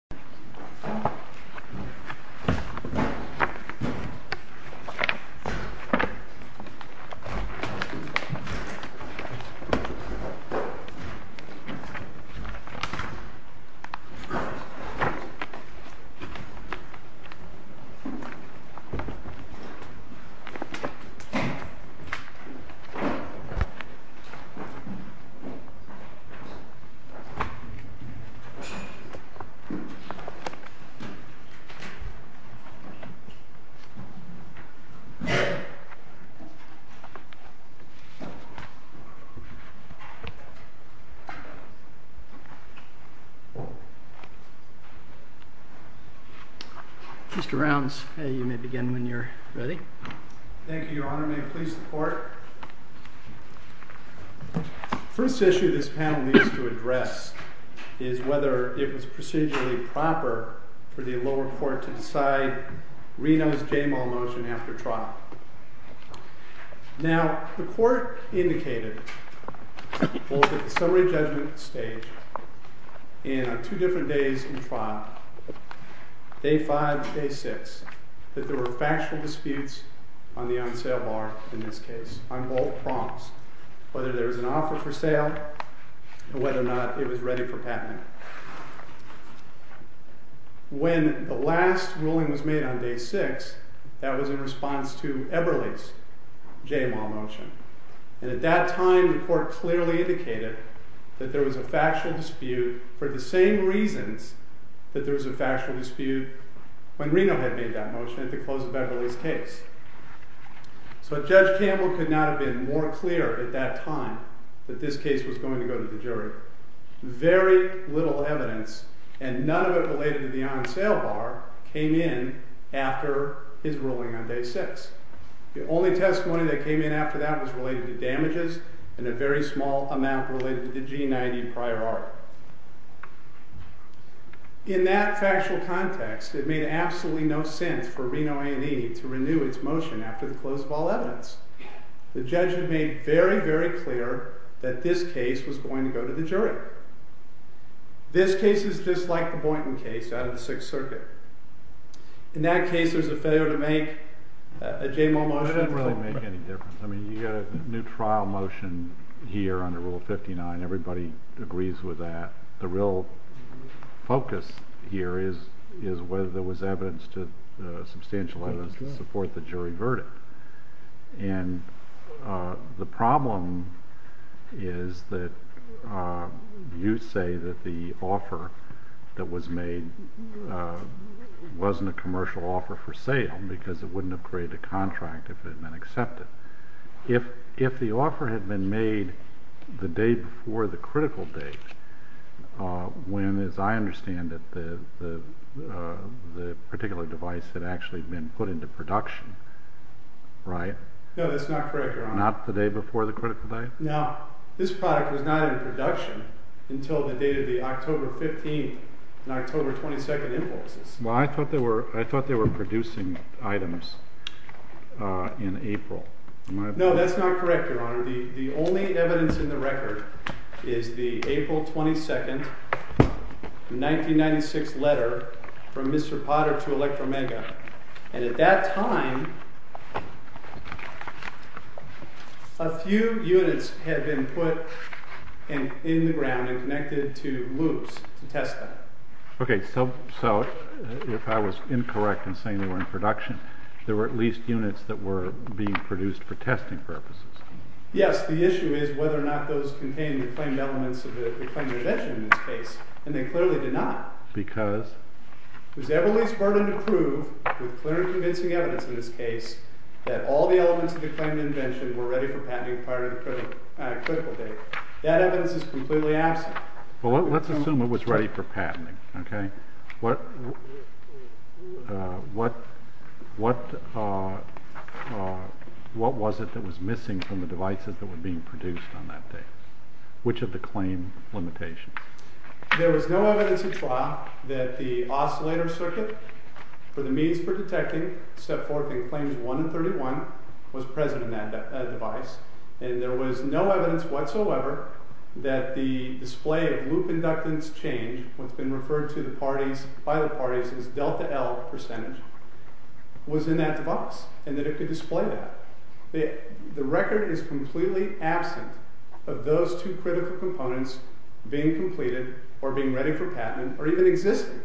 County這一곳 derives from Japanese service names Skeia Shirome Fukami and Shinne Made in Gumbi in Indonesia. Mr. Rounds, you may begin when you're ready. Thank you, Your Honor. May it please the Court? The first issue this panel needs to address is whether it was procedurally proper for the lower court to decide Reno's J-Mall motion after trial. Now, the court indicated both at the summary judgment stage and on two different days in trial, day five and day six, that there were factual disputes on the on-sale bar in this case. Whether there was an offer for sale and whether or not it was ready for patenting. When the last ruling was made on day six, that was in response to Eberle's J-Mall motion. And at that time, the court clearly indicated that there was a factual dispute for the same reasons that there was a factual dispute when Reno had made that motion at the close of Eberle's case. So Judge Campbell could not have been more clear at that time that this case was going to go to the jury. Very little evidence, and none of it related to the on-sale bar, came in after his ruling on day six. The only testimony that came in after that was related to damages and a very small amount related to the G90 prior art. In that factual context, it made absolutely no sense for Reno A&E to renew its motion after the close of all evidence. The judge had made very, very clear that this case was going to go to the jury. This case is just like the Boynton case out of the Sixth Circuit. In that case, there's a failure to make a J-Mall motion. It didn't really make any difference. I mean, you got a new trial motion here under Rule 59. Everybody agrees with that. The real focus here is whether there was evidence to substantial evidence to support the jury verdict. And the problem is that you say that the offer that was made wasn't a commercial offer for sale because it wouldn't have created a contract if it had been accepted. If the offer had been made the day before the critical date, when, as I understand it, the particular device had actually been put into production, right? No, that's not correct, Your Honor. Not the day before the critical date? No. This product was not in production until the date of the October 15th and October 22nd impulses. Well, I thought they were producing items in April. No, that's not correct, Your Honor. The only evidence in the record is the April 22nd, 1996 letter from Mr. Potter to Electromega. And at that time, a few units had been put in the ground and connected to loops to test them. Okay, so if I was incorrect in saying they were in production, there were at least units that were being produced for testing purposes. Yes, the issue is whether or not those contained the claimed elements of the claimed invention in this case, and they clearly did not. Because? It was Everly's burden to prove, with clear and convincing evidence in this case, that all the elements of the claimed invention were ready for patenting prior to the critical date. That evidence is completely absent. Well, let's assume it was ready for patenting, okay? What was it that was missing from the devices that were being produced on that date? Which of the claim limitations? There was no evidence at trial that the oscillator circuit for the means for detecting Step-Fourth in Claims 1 and 31 was present in that device. And there was no evidence whatsoever that the display of loop inductance change, what's been referred to by the parties as delta-L percentage, was in that device and that it could display that. The record is completely absent of those two critical components being completed or being ready for patenting or even existing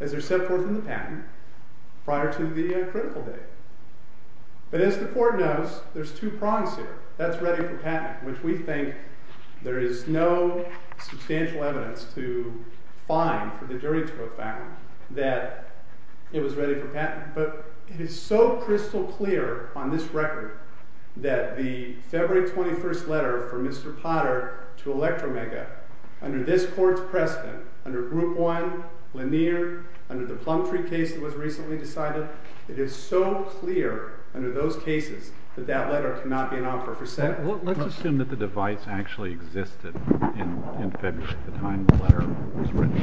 as they're set forth in the patent prior to the critical date. But as the court knows, there's two prongs here. That's ready for patenting, which we think there is no substantial evidence to find for the jury to have found that it was ready for patenting. But it is so crystal clear on this record that the February 21st letter from Mr. Potter to Electromega under this court's precedent, under Group 1, Lanier, under the Plumtree case that was recently decided, it is so clear under those cases that that letter cannot be an offer for sentencing. Let's assume that the device actually existed in February, the time the letter was written.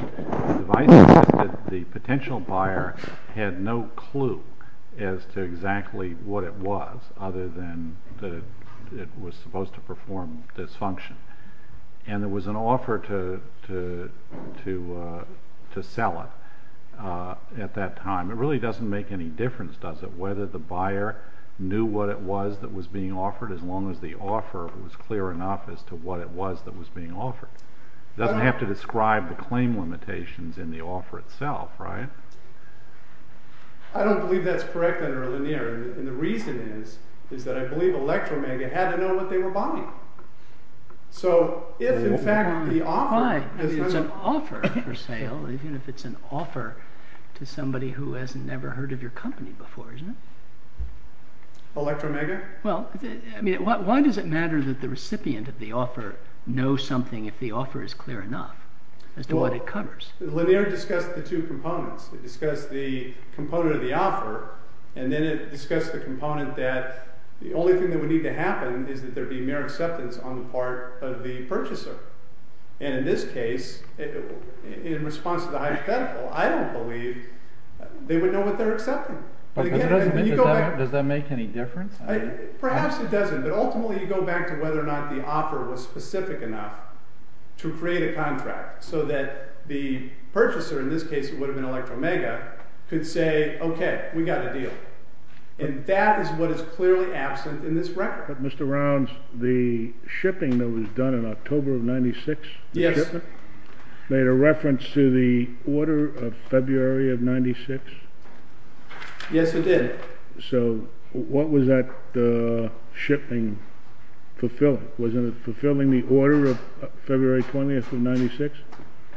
The device existed. The potential buyer had no clue as to exactly what it was other than that it was supposed to perform this function. And there was an offer to sell it at that time. It really doesn't make any difference, does it, whether the buyer knew what it was that was being offered as long as the offer was clear enough as to what it was that was being offered. It doesn't have to describe the claim limitations in the offer itself, right? I don't believe that's correct under Lanier. And the reason is that I believe Electromega had to know what they were buying. So if, in fact, the offer— Why? I mean, it's an offer for sale, even if it's an offer to somebody who has never heard of your company before, isn't it? Electromega? Well, I mean, why does it matter that the recipient of the offer knows something if the offer is clear enough as to what it covers? Lanier discussed the two components. It discussed the component of the offer, and then it discussed the component that the only thing that would need to happen is that there be mere acceptance on the part of the purchaser. And in this case, in response to the hypothetical, I don't believe they would know what they're accepting. Does that make any difference? Perhaps it doesn't, but ultimately you go back to whether or not the offer was specific enough to create a contract so that the purchaser—in this case, it would have been Electromega—could say, okay, we got a deal. And that is what is clearly absent in this record. But, Mr. Rounds, the shipping that was done in October of 1996, the shipment, made a reference to the order of February of 1996? Yes, it did. So what was that shipping fulfilling? Was it fulfilling the order of February 20th of 1996?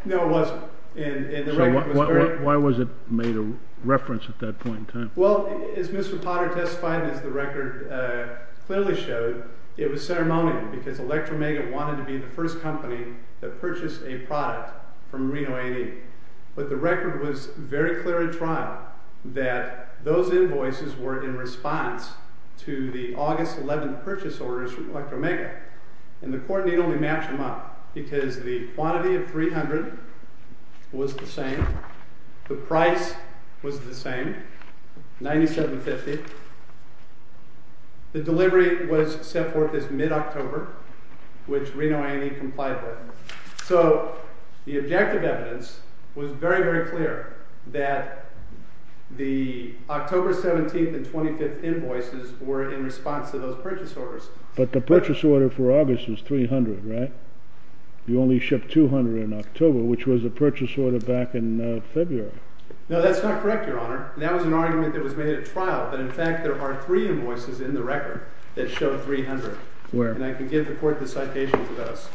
No, it wasn't. So why was it made a reference at that point in time? Well, as Mr. Potter testified and as the record clearly showed, it was ceremonial because Electromega wanted to be the first company that purchased a product from Reno AD. But the record was very clear in trial that those invoices were in response to the August 11th purchase orders from Electromega. And the court need only match them up because the quantity of $300 was the same, the price was the same, $97.50. The delivery was set forth as mid-October, which Reno AD complied with. So the objective evidence was very, very clear that the October 17th and 25th invoices were in response to those purchase orders. But the purchase order for August was $300, right? You only shipped $200 in October, which was the purchase order back in February. No, that's not correct, Your Honor. That was an argument that was made at trial, but in fact there are three invoices in the record that show $300. Where? And I can give the court the citations of those.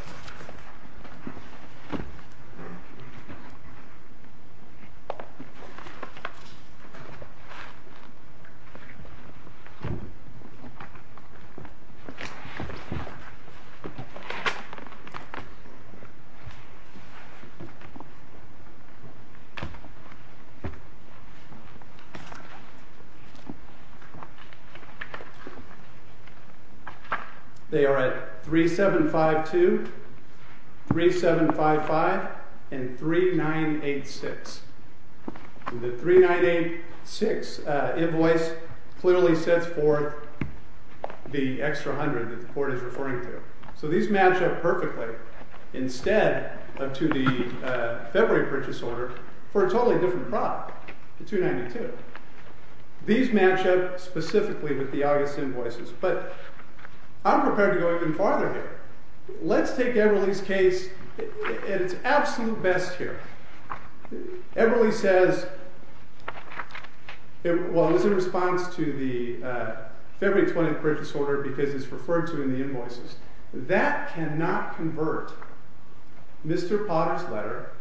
They are at 3752, 3755, and 3986. The 3986 invoice clearly sets forth the extra $100 that the court is referring to. So these match up perfectly instead to the February purchase order for a totally different product, the 292. These match up specifically with the August invoices. But I'm prepared to go even farther here. Let's take Eberle's case at its absolute best here. Eberle says it was in response to the February 20th purchase order because it's referred to in the invoices. That cannot convert Mr. Potter's letter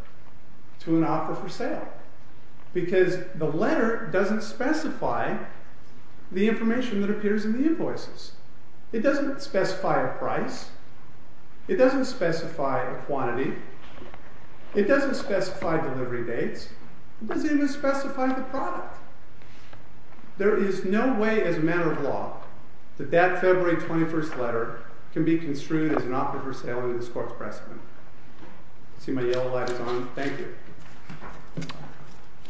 to an offer for sale because the letter doesn't specify the information that appears in the invoices. It doesn't specify a price. It doesn't specify a quantity. It doesn't specify delivery dates. It doesn't even specify the product. There is no way as a matter of law that that February 21st letter can be construed as an offer for sale under this court's precedent. I see my yellow light is on. Thank you.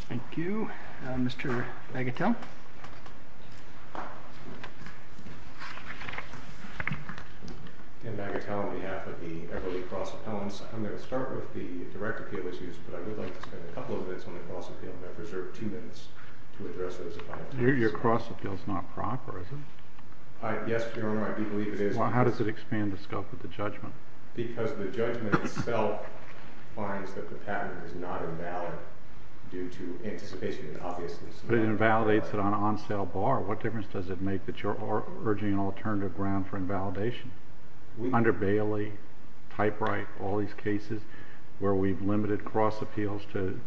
Thank you. Mr. Bagatelle. I'm Bagatelle on behalf of the Eberle Cross Appellants. I'm going to start with the direct appeal issues, but I would like to spend a couple of minutes on the cross appeal, and I've reserved two minutes to address those. Your cross appeal is not proper, is it? Yes, Your Honor, I do believe it is. Well, how does it expand the scope of the judgment? Because the judgment itself finds that the pattern is not invalid due to anticipation and obviousness. But it invalidates it on an on-sale bar. What difference does it make that you're urging an alternative ground for invalidation? Under Bailey, Typewright, all these cases where we've limited cross appeals to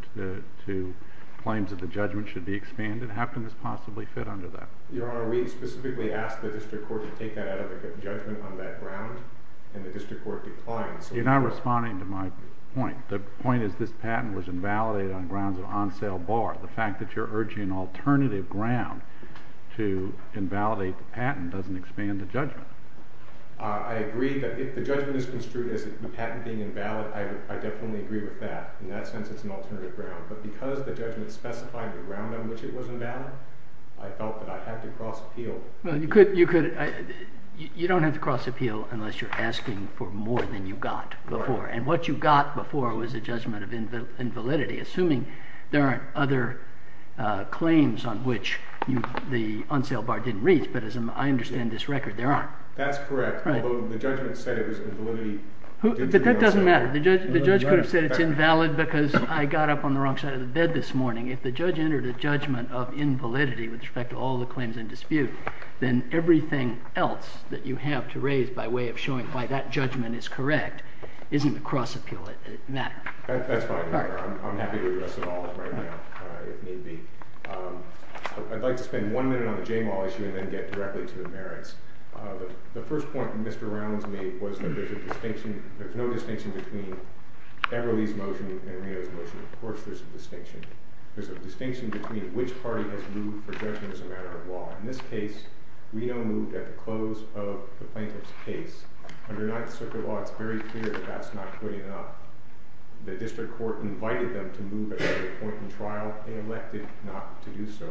claims that the judgment should be expanded, how can this possibly fit under that? Your Honor, we specifically asked the district court to take that out of the judgment on that ground, and the district court declined. You're not responding to my point. The point is this patent was invalidated on grounds of on-sale bar. The fact that you're urging an alternative ground to invalidate the patent doesn't expand the judgment. I agree that if the judgment is construed as the patent being invalid, I definitely agree with that. In that sense, it's an alternative ground. But because the judgment specified the ground on which it was invalid, I felt that I had to cross appeal. You don't have to cross appeal unless you're asking for more than you got before. And what you got before was a judgment of invalidity, assuming there aren't other claims on which the on-sale bar didn't reach. But as I understand this record, there aren't. That's correct, although the judgment said it was invalidity due to the on-sale bar. But that doesn't matter. The judge could have said it's invalid because I got up on the wrong side of the bed this morning. If the judge entered a judgment of invalidity with respect to all the claims in dispute, then everything else that you have to raise by way of showing why that judgment is correct isn't a cross appeal in that. That's fine, Your Honor. I'm happy to address it all right now, if need be. I'd like to spend one minute on the Jamal issue and then get directly to the merits. The first point that Mr. Rounds made was that there's no distinction between Everly's motion and Reno's motion. Of course there's a distinction. There's a distinction between which party has moved for judgment as a matter of law. In this case, Reno moved at the close of the plaintiff's case. Under Ninth Circuit law, it's very clear that that's not good enough. The district court invited them to move at a later point in trial. They elected not to do so.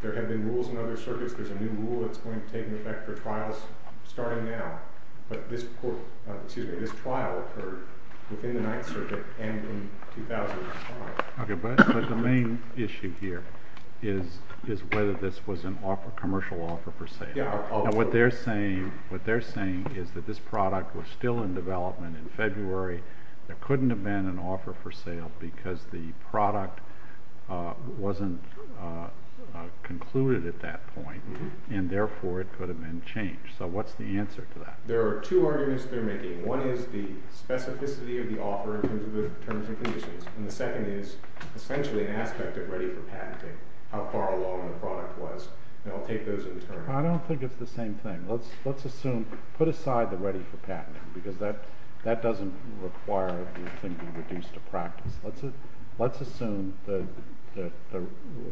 There have been rules in other circuits. There's a new rule that's going to take effect for trials starting now. But this trial occurred within the Ninth Circuit and in 2005. But the main issue here is whether this was a commercial offer for sale. What they're saying is that this product was still in development in February. There couldn't have been an offer for sale because the product wasn't concluded at that point, and therefore it could have been changed. So what's the answer to that? There are two arguments they're making. One is the specificity of the offer in terms of the terms and conditions. And the second is essentially an aspect of ready for patenting, how far along the product was. And I'll take those in turn. I don't think it's the same thing. Let's assume, put aside the ready for patenting, because that doesn't require the thing be reduced to practice. Let's assume that the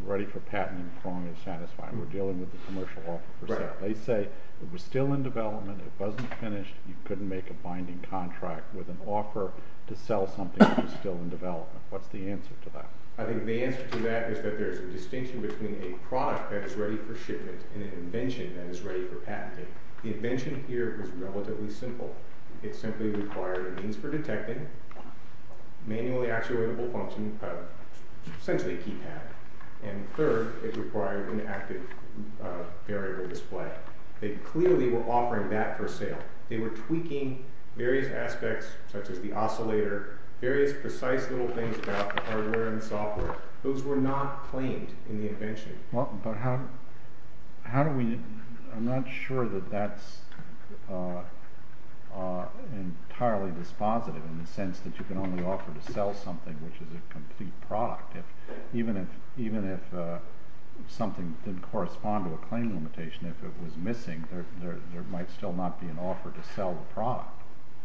ready for patenting prong is satisfied. We're dealing with a commercial offer for sale. They say it was still in development, it wasn't finished, you couldn't make a binding contract with an offer to sell something that was still in development. What's the answer to that? I think the answer to that is that there's a distinction between a product that is ready for shipment and an invention that is ready for patenting. The invention here was relatively simple. It simply required a means for detecting, manually actuatable function, essentially a keypad. And third, it required an active variable display. They clearly were offering that for sale. They were tweaking various aspects such as the oscillator, various precise little things about the hardware and software. Those were not claimed in the invention. But how do we, I'm not sure that that's entirely dispositive in the sense that you can only offer to sell something which is a complete product. Even if something didn't correspond to a claim limitation, if it was missing, there might still not be an offer to sell the product.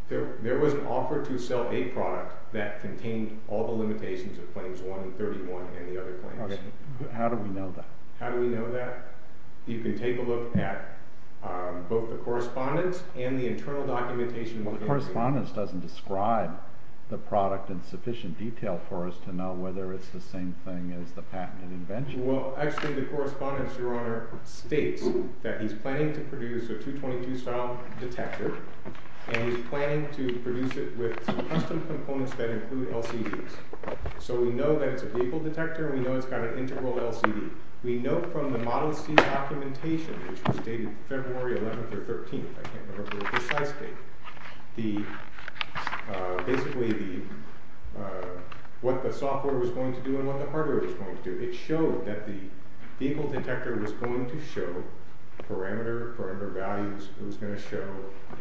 There was an offer to sell a product that contained all the limitations of Claims 1 and 31 and the other claims. How do we know that? How do we know that? You can take a look at both the correspondence and the internal documentation. Well, the correspondence doesn't describe the product in sufficient detail for us to know whether it's the same thing as the patented invention. Well, actually, the correspondence, Your Honor, states that he's planning to produce a 222 style detector. And he's planning to produce it with some custom components that include LCDs. So we know that it's a vehicle detector. We know it's got an integral LCD. We know from the Model C documentation, which was dated February 11th or 13th, I can't remember precisely, basically what the software was going to do and what the hardware was going to do. It showed that the vehicle detector was going to show parameter, parameter values. It was going to show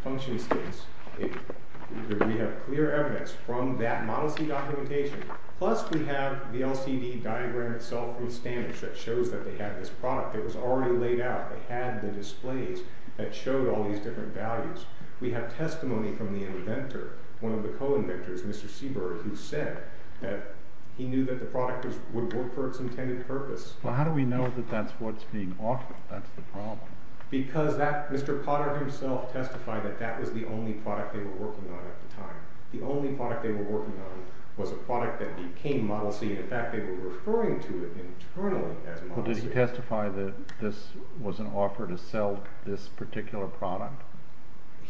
function states. We have clear evidence from that Model C documentation. Plus, we have the LCD diagram itself from standards that shows that they had this product. It was already laid out. It had the displays that showed all these different values. We have testimony from the inventor, one of the co-inventors, Mr. Seabird, who said that he knew that the product would work for its intended purpose. Well, how do we know that that's what's being offered? That's the problem. Because Mr. Potter himself testified that that was the only product they were working on at the time. The only product they were working on was a product that became Model C. In fact, they were referring to it internally as Model C. Well, did he testify that this was an offer to sell this particular product?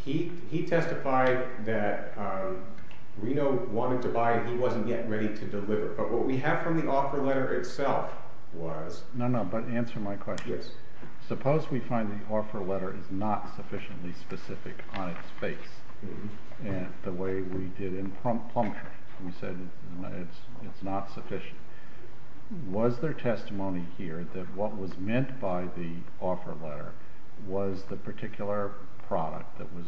He testified that Reno wanted to buy it. He wasn't yet ready to deliver. But what we have from the offer letter itself was— No, no, but answer my question. Yes. Suppose we find the offer letter is not sufficiently specific on its face, the way we did in plummeter. We said it's not sufficient. Was there testimony here that what was meant by the offer letter was the particular product that was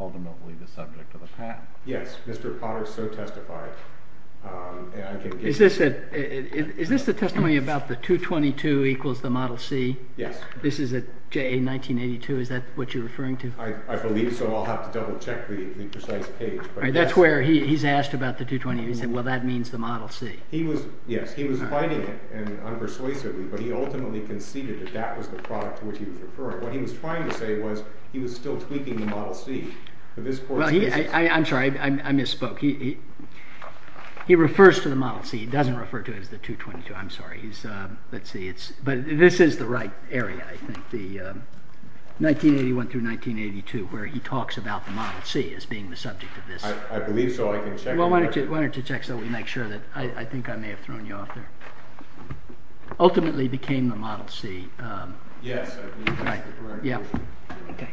ultimately the subject of the patent? Yes, Mr. Potter so testified. Is this the testimony about the 222 equals the Model C? Yes. This is at JA 1982. Is that what you're referring to? I believe so. I'll have to double-check the precise page. That's where he's asked about the 222. He said, well, that means the Model C. Yes. He was fighting it unpersuasively, but he ultimately conceded that that was the product to which he was referring. What he was trying to say was he was still tweaking the Model C. I'm sorry. I misspoke. He refers to the Model C. He doesn't refer to it as the 222. I'm sorry. But this is the right area, I think, 1981 through 1982, where he talks about the Model C as being the subject of this. I believe so. I can check. Why don't you check so we make sure? I think I may have thrown you off there. Ultimately became the Model C. Yes. Right. Yeah. Okay.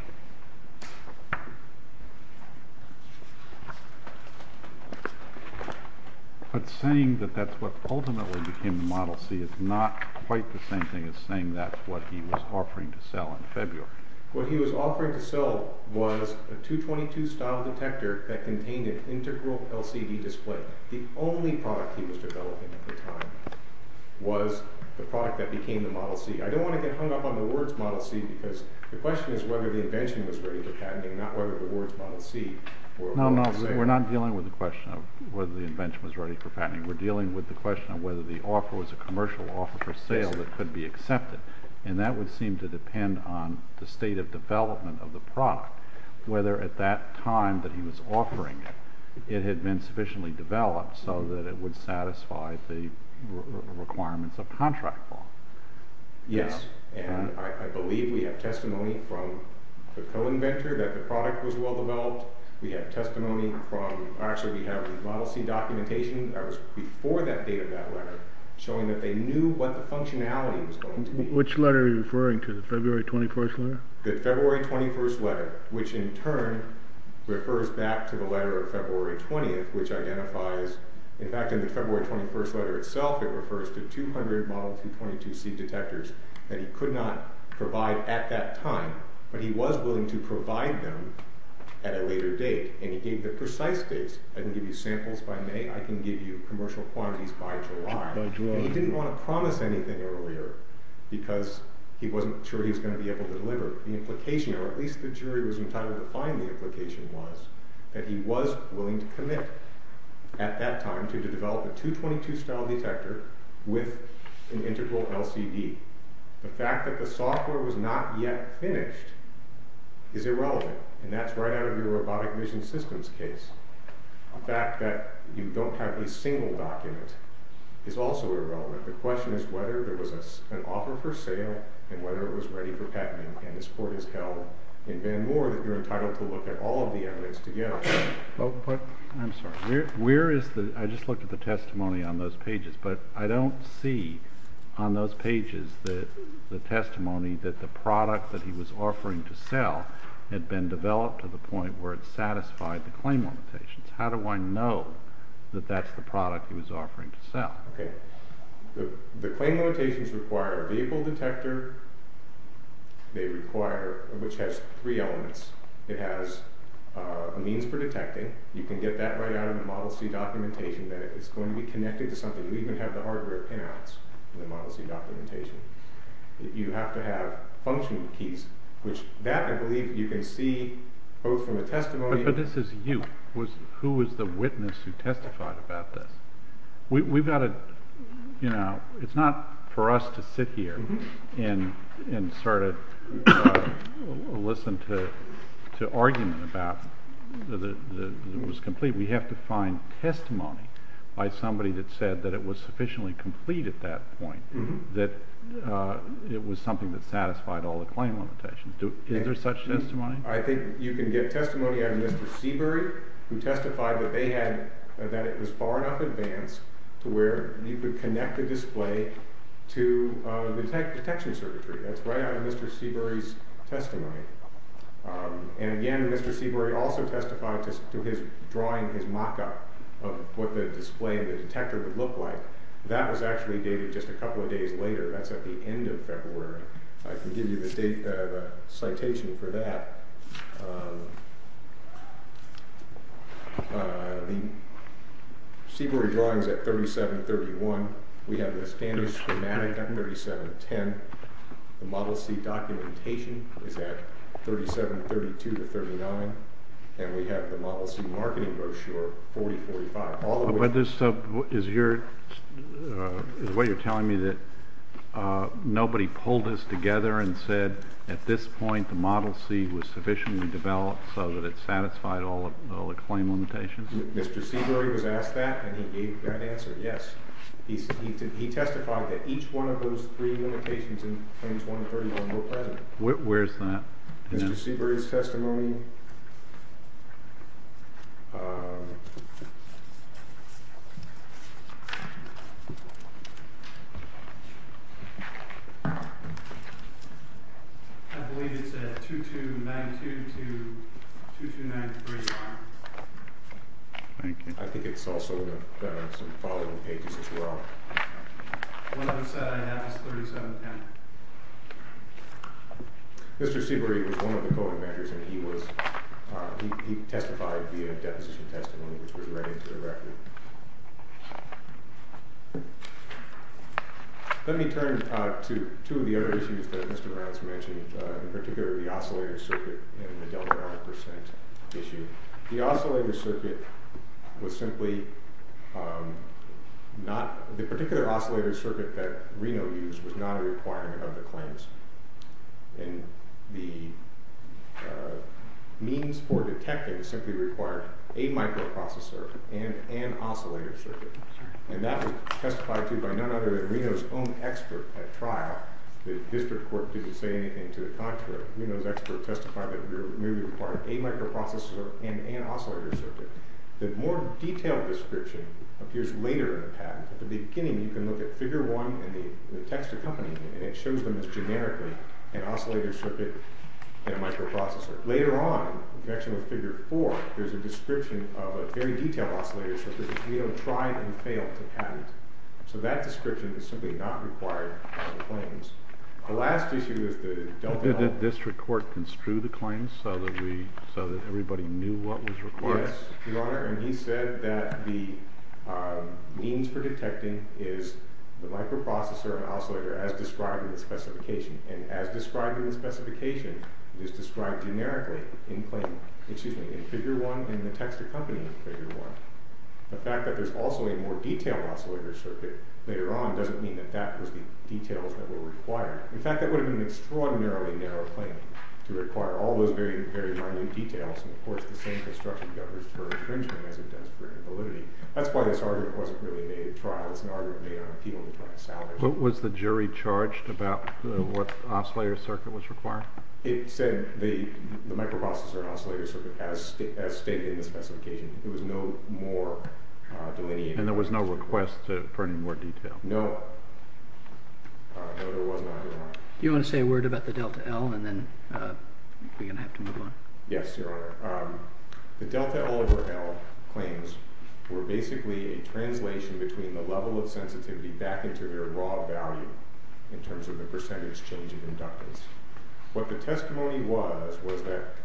But saying that that's what ultimately became the Model C is not quite the same thing as saying that's what he was offering to sell in February. What he was offering to sell was a 222-style detector that contained an integral LCD display. The only product he was developing at the time was the product that became the Model C. I don't want to get hung up on the words Model C because the question is whether the invention was ready for patenting and not whether the words Model C were a model for sale. No, no. We're not dealing with the question of whether the invention was ready for patenting. We're dealing with the question of whether the offer was a commercial offer for sale that could be accepted. And that would seem to depend on the state of development of the product, whether at that time that he was offering it, it had been sufficiently developed so that it would satisfy the requirements of contract law. Yes. And I believe we have testimony from the co-inventor that the product was well-developed. We have testimony from – actually, we have Model C documentation that was before that date of that letter showing that they knew what the functionality was going to be. Which letter are you referring to, the February 21st letter? The February 21st letter, which in turn refers back to the letter of February 20th, which identifies – in fact, in the February 21st letter itself it refers to 200 Model 222C detectors that he could not provide at that time, but he was willing to provide them at a later date. And he gave the precise dates. I can give you samples by May. I can give you commercial quantities by July. By July. And he didn't want to promise anything earlier because he wasn't sure he was going to be able to deliver. The implication, or at least the jury was entitled to find the implication, was that he was willing to commit at that time to develop a 222 style detector with an integral LCD. The fact that the software was not yet finished is irrelevant, and that's right out of your robotic mission systems case. The fact that you don't have a single document is also irrelevant. The question is whether there was an offer for sale and whether it was ready for patenting. And this Court has held in Van Moore that you're entitled to look at all of the evidence together. I'm sorry. I just looked at the testimony on those pages, but I don't see on those pages the testimony that the product that he was offering to sell had been developed to the point where it satisfied the claim limitations. How do I know that that's the product he was offering to sell? Okay. The claim limitations require a vehicle detector, which has three elements. It has a means for detecting. You can get that right out of the Model C documentation that it's going to be connected to something. You even have the hardware pinouts in the Model C documentation. You have to have function keys, which that, I believe, you can see both from the testimony… But this is you. Who was the witness who testified about this? It's not for us to sit here and listen to argument about that it was complete. We have to find testimony by somebody that said that it was sufficiently complete at that point, that it was something that satisfied all the claim limitations. Is there such testimony? I think you can get testimony out of Mr. Seabury, who testified that it was far enough advanced to where you could connect the display to the detection circuitry. That's right out of Mr. Seabury's testimony. And, again, Mr. Seabury also testified to his drawing his mock-up of what the display and the detector would look like. That was actually dated just a couple of days later. That's at the end of February. I can give you the citation for that. The Seabury drawing is at 3731. We have the standard schematic at 3710. The Model C documentation is at 3732-39. And we have the Model C marketing brochure, 4045. Is what you're telling me that nobody pulled this together and said at this point the Model C was sufficiently developed so that it satisfied all the claim limitations? Mr. Seabury was asked that, and he gave that answer, yes. He testified that each one of those three limitations in claims 131 were present. Where's that? Mr. Seabury's testimony. I believe it's at 2292-2293. Thank you. I think it's also in the following pages as well. One other side I have is 3710. Mr. Seabury was one of the co-inventors, and he testified via deposition testimony, which was read into the record. Let me turn to two of the other issues that Mr. Morales mentioned, in particular the oscillator circuit and the delta-5% issue. The oscillator circuit was simply not – the particular oscillator circuit that Reno used was not a requirement of the claims. And the means for detecting simply required a microprocessor and an oscillator circuit. And that was testified to by none other than Reno's own expert at trial. The district court didn't say anything to the contrary. But Reno's expert testified that it merely required a microprocessor and an oscillator circuit. The more detailed description appears later in the patent. At the beginning, you can look at Figure 1 and the text accompanying it, and it shows them as generically an oscillator circuit and a microprocessor. Later on, in connection with Figure 4, there's a description of a very detailed oscillator circuit that Reno tried and failed to patent. So that description is simply not required by the claims. Did the district court construe the claims so that everybody knew what was required? Yes, Your Honor, and he said that the means for detecting is the microprocessor and oscillator as described in the specification. And as described in the specification, it is described generically in Figure 1 and the text accompanying Figure 1. The fact that there's also a more detailed oscillator circuit later on doesn't mean that that was the details that were required. In fact, that would have been an extraordinarily narrow claim to require all those very minute details. And, of course, the same construction governs for infringement as it does for invalidity. That's why this argument wasn't really made at trial. It's an argument made on appeal to trial salaries. But was the jury charged about what oscillator circuit was required? It said the microprocessor and oscillator circuit as stated in the specification. It was no more delineated. And there was no request for any more detail? No. No, there was not, Your Honor. Do you want to say a word about the Delta L and then we're going to have to move on? Yes, Your Honor. The Delta L over L claims were basically a translation between the level of sensitivity back into their raw value in terms of the percentage change in inductance. What the testimony was was that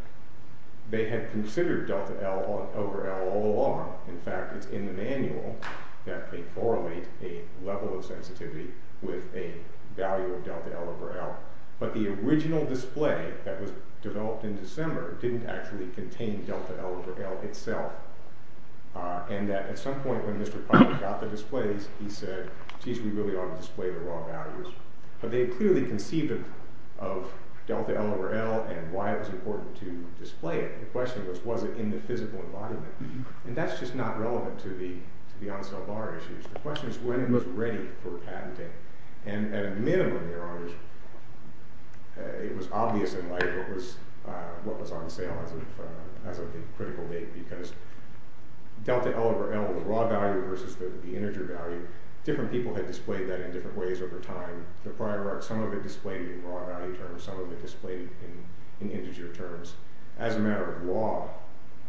they had considered Delta L over L all along. In fact, it's in the manual that they correlate a level of sensitivity with a value of Delta L over L. But the original display that was developed in December didn't actually contain Delta L over L itself. And that at some point when Mr. Parker got the displays, he said, geez, we really ought to display the raw values. But they clearly conceived of Delta L over L and why it was important to display it. The question was, was it in the physical environment? And that's just not relevant to the on-sale bar issues. The question is when it was ready for patenting. And at a minimum, Your Honor, it was obvious in light of what was on sale as of the critical date. Because Delta L over L, the raw value versus the integer value, different people had displayed that in different ways over time. Some of it displayed in raw value terms. Some of it displayed in integer terms. As a matter of law,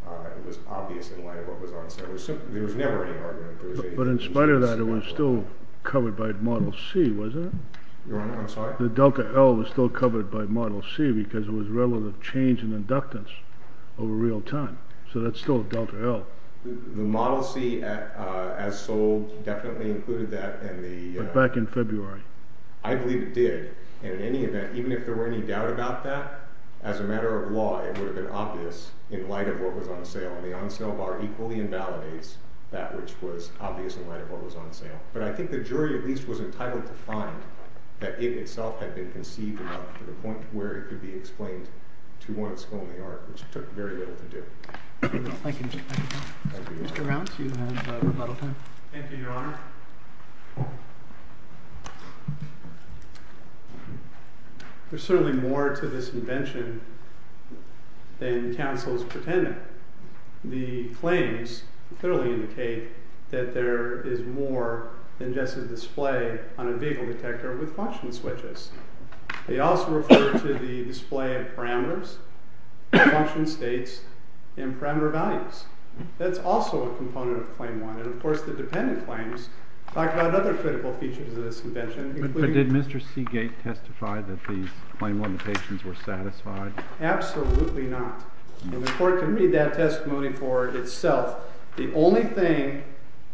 it was obvious in light of what was on sale. There was never any argument. But in spite of that, it was still covered by Model C, wasn't it? Your Honor, I'm sorry? The Delta L was still covered by Model C because it was relevant change in inductance over real time. So that's still Delta L. The Model C as sold definitely included that. But back in February. I believe it did. And in any event, even if there were any doubt about that, as a matter of law, it would have been obvious in light of what was on sale. And the on-sale bar equally invalidates that which was obvious in light of what was on sale. But I think the jury at least was entitled to find that it itself had been conceived enough to the point where it could be explained to one school in the art, which took very little to do. Thank you, Your Honor. Mr. Rounce, you have rebuttal time. Thank you, Your Honor. There's certainly more to this invention than counsel's pretending. The claims clearly indicate that there is more than just a display on a vehicle detector with function switches. They also refer to the display of parameters, function states, and parameter values. That's also a component of Claim 1. And of course, the dependent claims talk about other critical features of this invention. But did Mr. Seagate testify that these Claim 1 limitations were satisfied? Absolutely not. And the court can read that testimony for itself. The only thing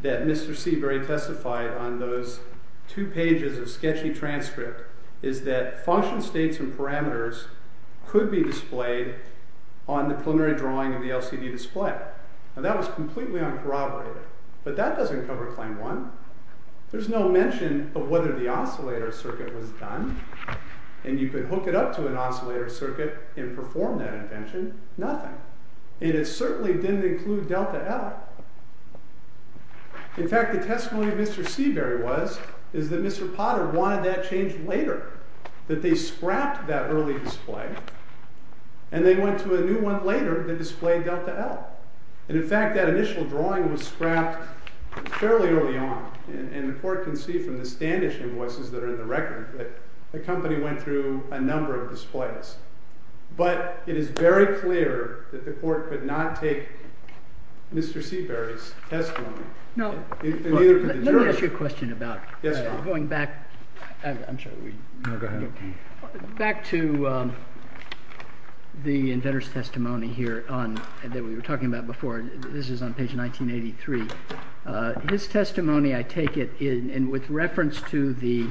that Mr. Seagate testified on those two pages of sketchy transcript is that function states and parameters could be displayed on the preliminary drawing of the LCD display. And that was completely uncorroborated. But that doesn't cover Claim 1. There's no mention of whether the oscillator circuit was done. And you could hook it up to an oscillator circuit and perform that invention. Nothing. And it certainly didn't include delta L. In fact, the testimony of Mr. Seabury was that Mr. Potter wanted that changed later, that they scrapped that early display. And they went to a new one later that displayed delta L. And in fact, that initial drawing was scrapped fairly early on. And the court can see from the Standish invoices that are in the record that the company went through a number of displays. But it is very clear that the court could not take Mr. Seabury's testimony. Let me ask you a question about going back to the inventor's testimony here that we were talking about before. This is on page 1983. His testimony, I take it, and with reference to the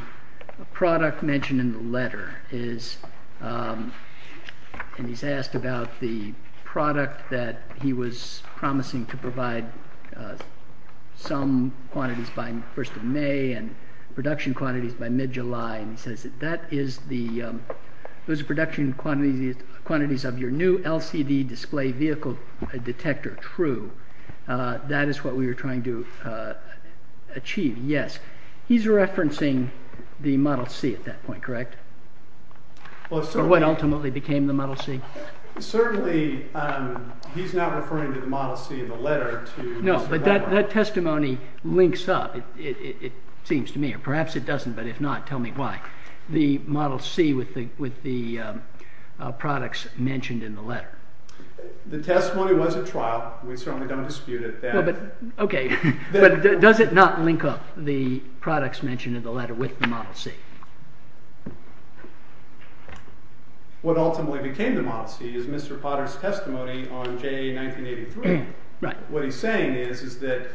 product mentioned in the letter, and he's asked about the product that he was promising to provide some quantities by the first of May and production quantities by mid-July. And he says that those production quantities of your new LCD display vehicle detector are true. That is what we were trying to achieve, yes. He's referencing the Model C at that point, correct? Or what ultimately became the Model C? Certainly, he's not referring to the Model C in the letter to Mr. Potter. No, but that testimony links up, it seems to me. Or perhaps it doesn't, but if not, tell me why. The Model C with the products mentioned in the letter. The testimony was at trial. We certainly don't dispute it. Okay, but does it not link up, the products mentioned in the letter with the Model C? What ultimately became the Model C is Mr. Potter's testimony on J.A. 1983. What he's saying is that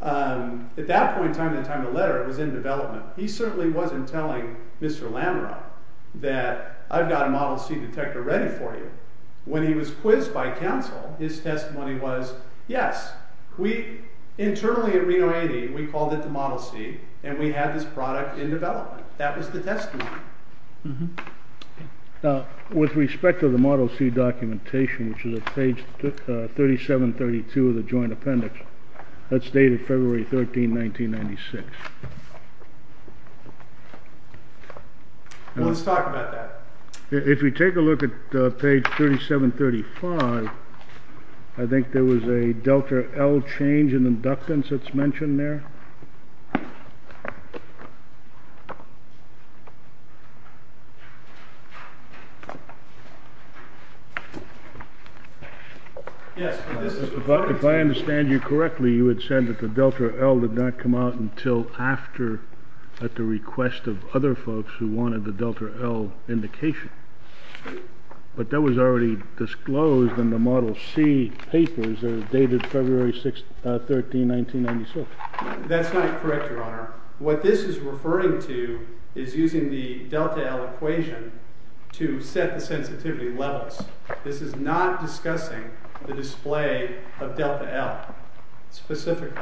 at that point in time, in the time of the letter, it was in development. He certainly wasn't telling Mr. Lamarock that I've got a Model C detector ready for you. When he was quizzed by counsel, his testimony was, yes. Internally at Reno 80, we called it the Model C, and we had this product in development. That was the testimony. With respect to the Model C documentation, which is at page 3732 of the joint appendix, that's dated February 13, 1996. Let's talk about that. If we take a look at page 3735, I think there was a Delta L change in inductance that's mentioned there. If I understand you correctly, you had said that the Delta L did not come out until after, at the request of other folks who wanted the Delta L indication. But that was already disclosed in the Model C papers that are dated February 13, 1996. That's not correct, Your Honor. What this is referring to is using the Delta L equation to set the sensitivity levels. This is not discussing the display of Delta L specifically.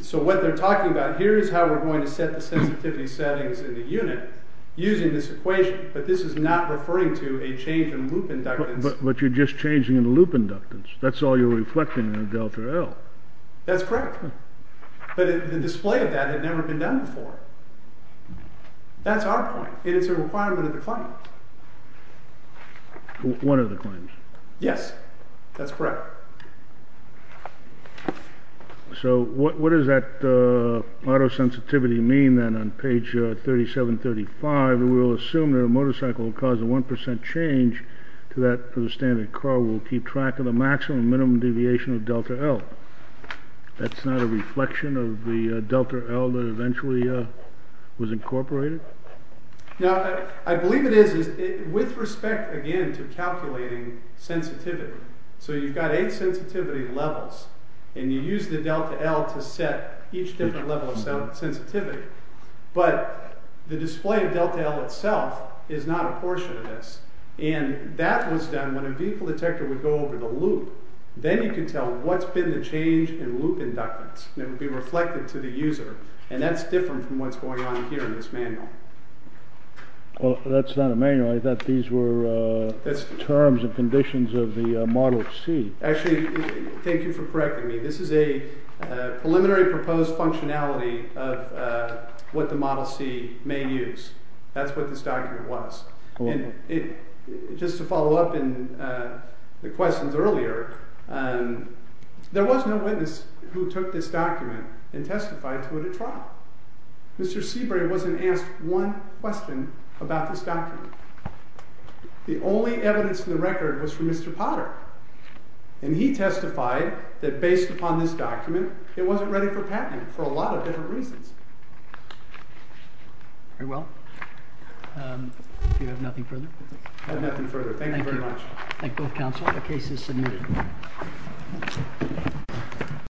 So what they're talking about here is how we're going to set the sensitivity settings in the unit using this equation, but this is not referring to a change in loop inductance. But you're just changing the loop inductance. That's all you're reflecting in the Delta L. That's correct. But the display of that had never been done before. That's our point, and it's a requirement of the claim. One of the claims. Yes, that's correct. So what does that auto-sensitivity mean then on page 3735? We will assume that a motorcycle will cause a 1% change to that for the standard car. We'll keep track of the maximum and minimum deviation of Delta L. That's not a reflection of the Delta L that eventually was incorporated? Now, I believe it is with respect, again, to calculating sensitivity. So you've got eight sensitivity levels, and you use the Delta L to set each different level of sensitivity. But the display of Delta L itself is not a portion of this. And that was done when a vehicle detector would go over the loop. Then you can tell what's been the change in loop inductance, and it would be reflected to the user. And that's different from what's going on here in this manual. Well, that's not a manual. I thought these were terms and conditions of the Model C. Actually, thank you for correcting me. This is a preliminary proposed functionality of what the Model C may use. That's what this document was. And just to follow up in the questions earlier, there was no witness who took this document and testified to it at trial. Mr. Seabury wasn't asked one question about this document. The only evidence in the record was from Mr. Potter. And he testified that, based upon this document, it wasn't ready for patenting for a lot of different reasons. Very well. Do you have nothing further? I have nothing further. Thank you very much. Thank you. Thank both counsel. The case is submitted.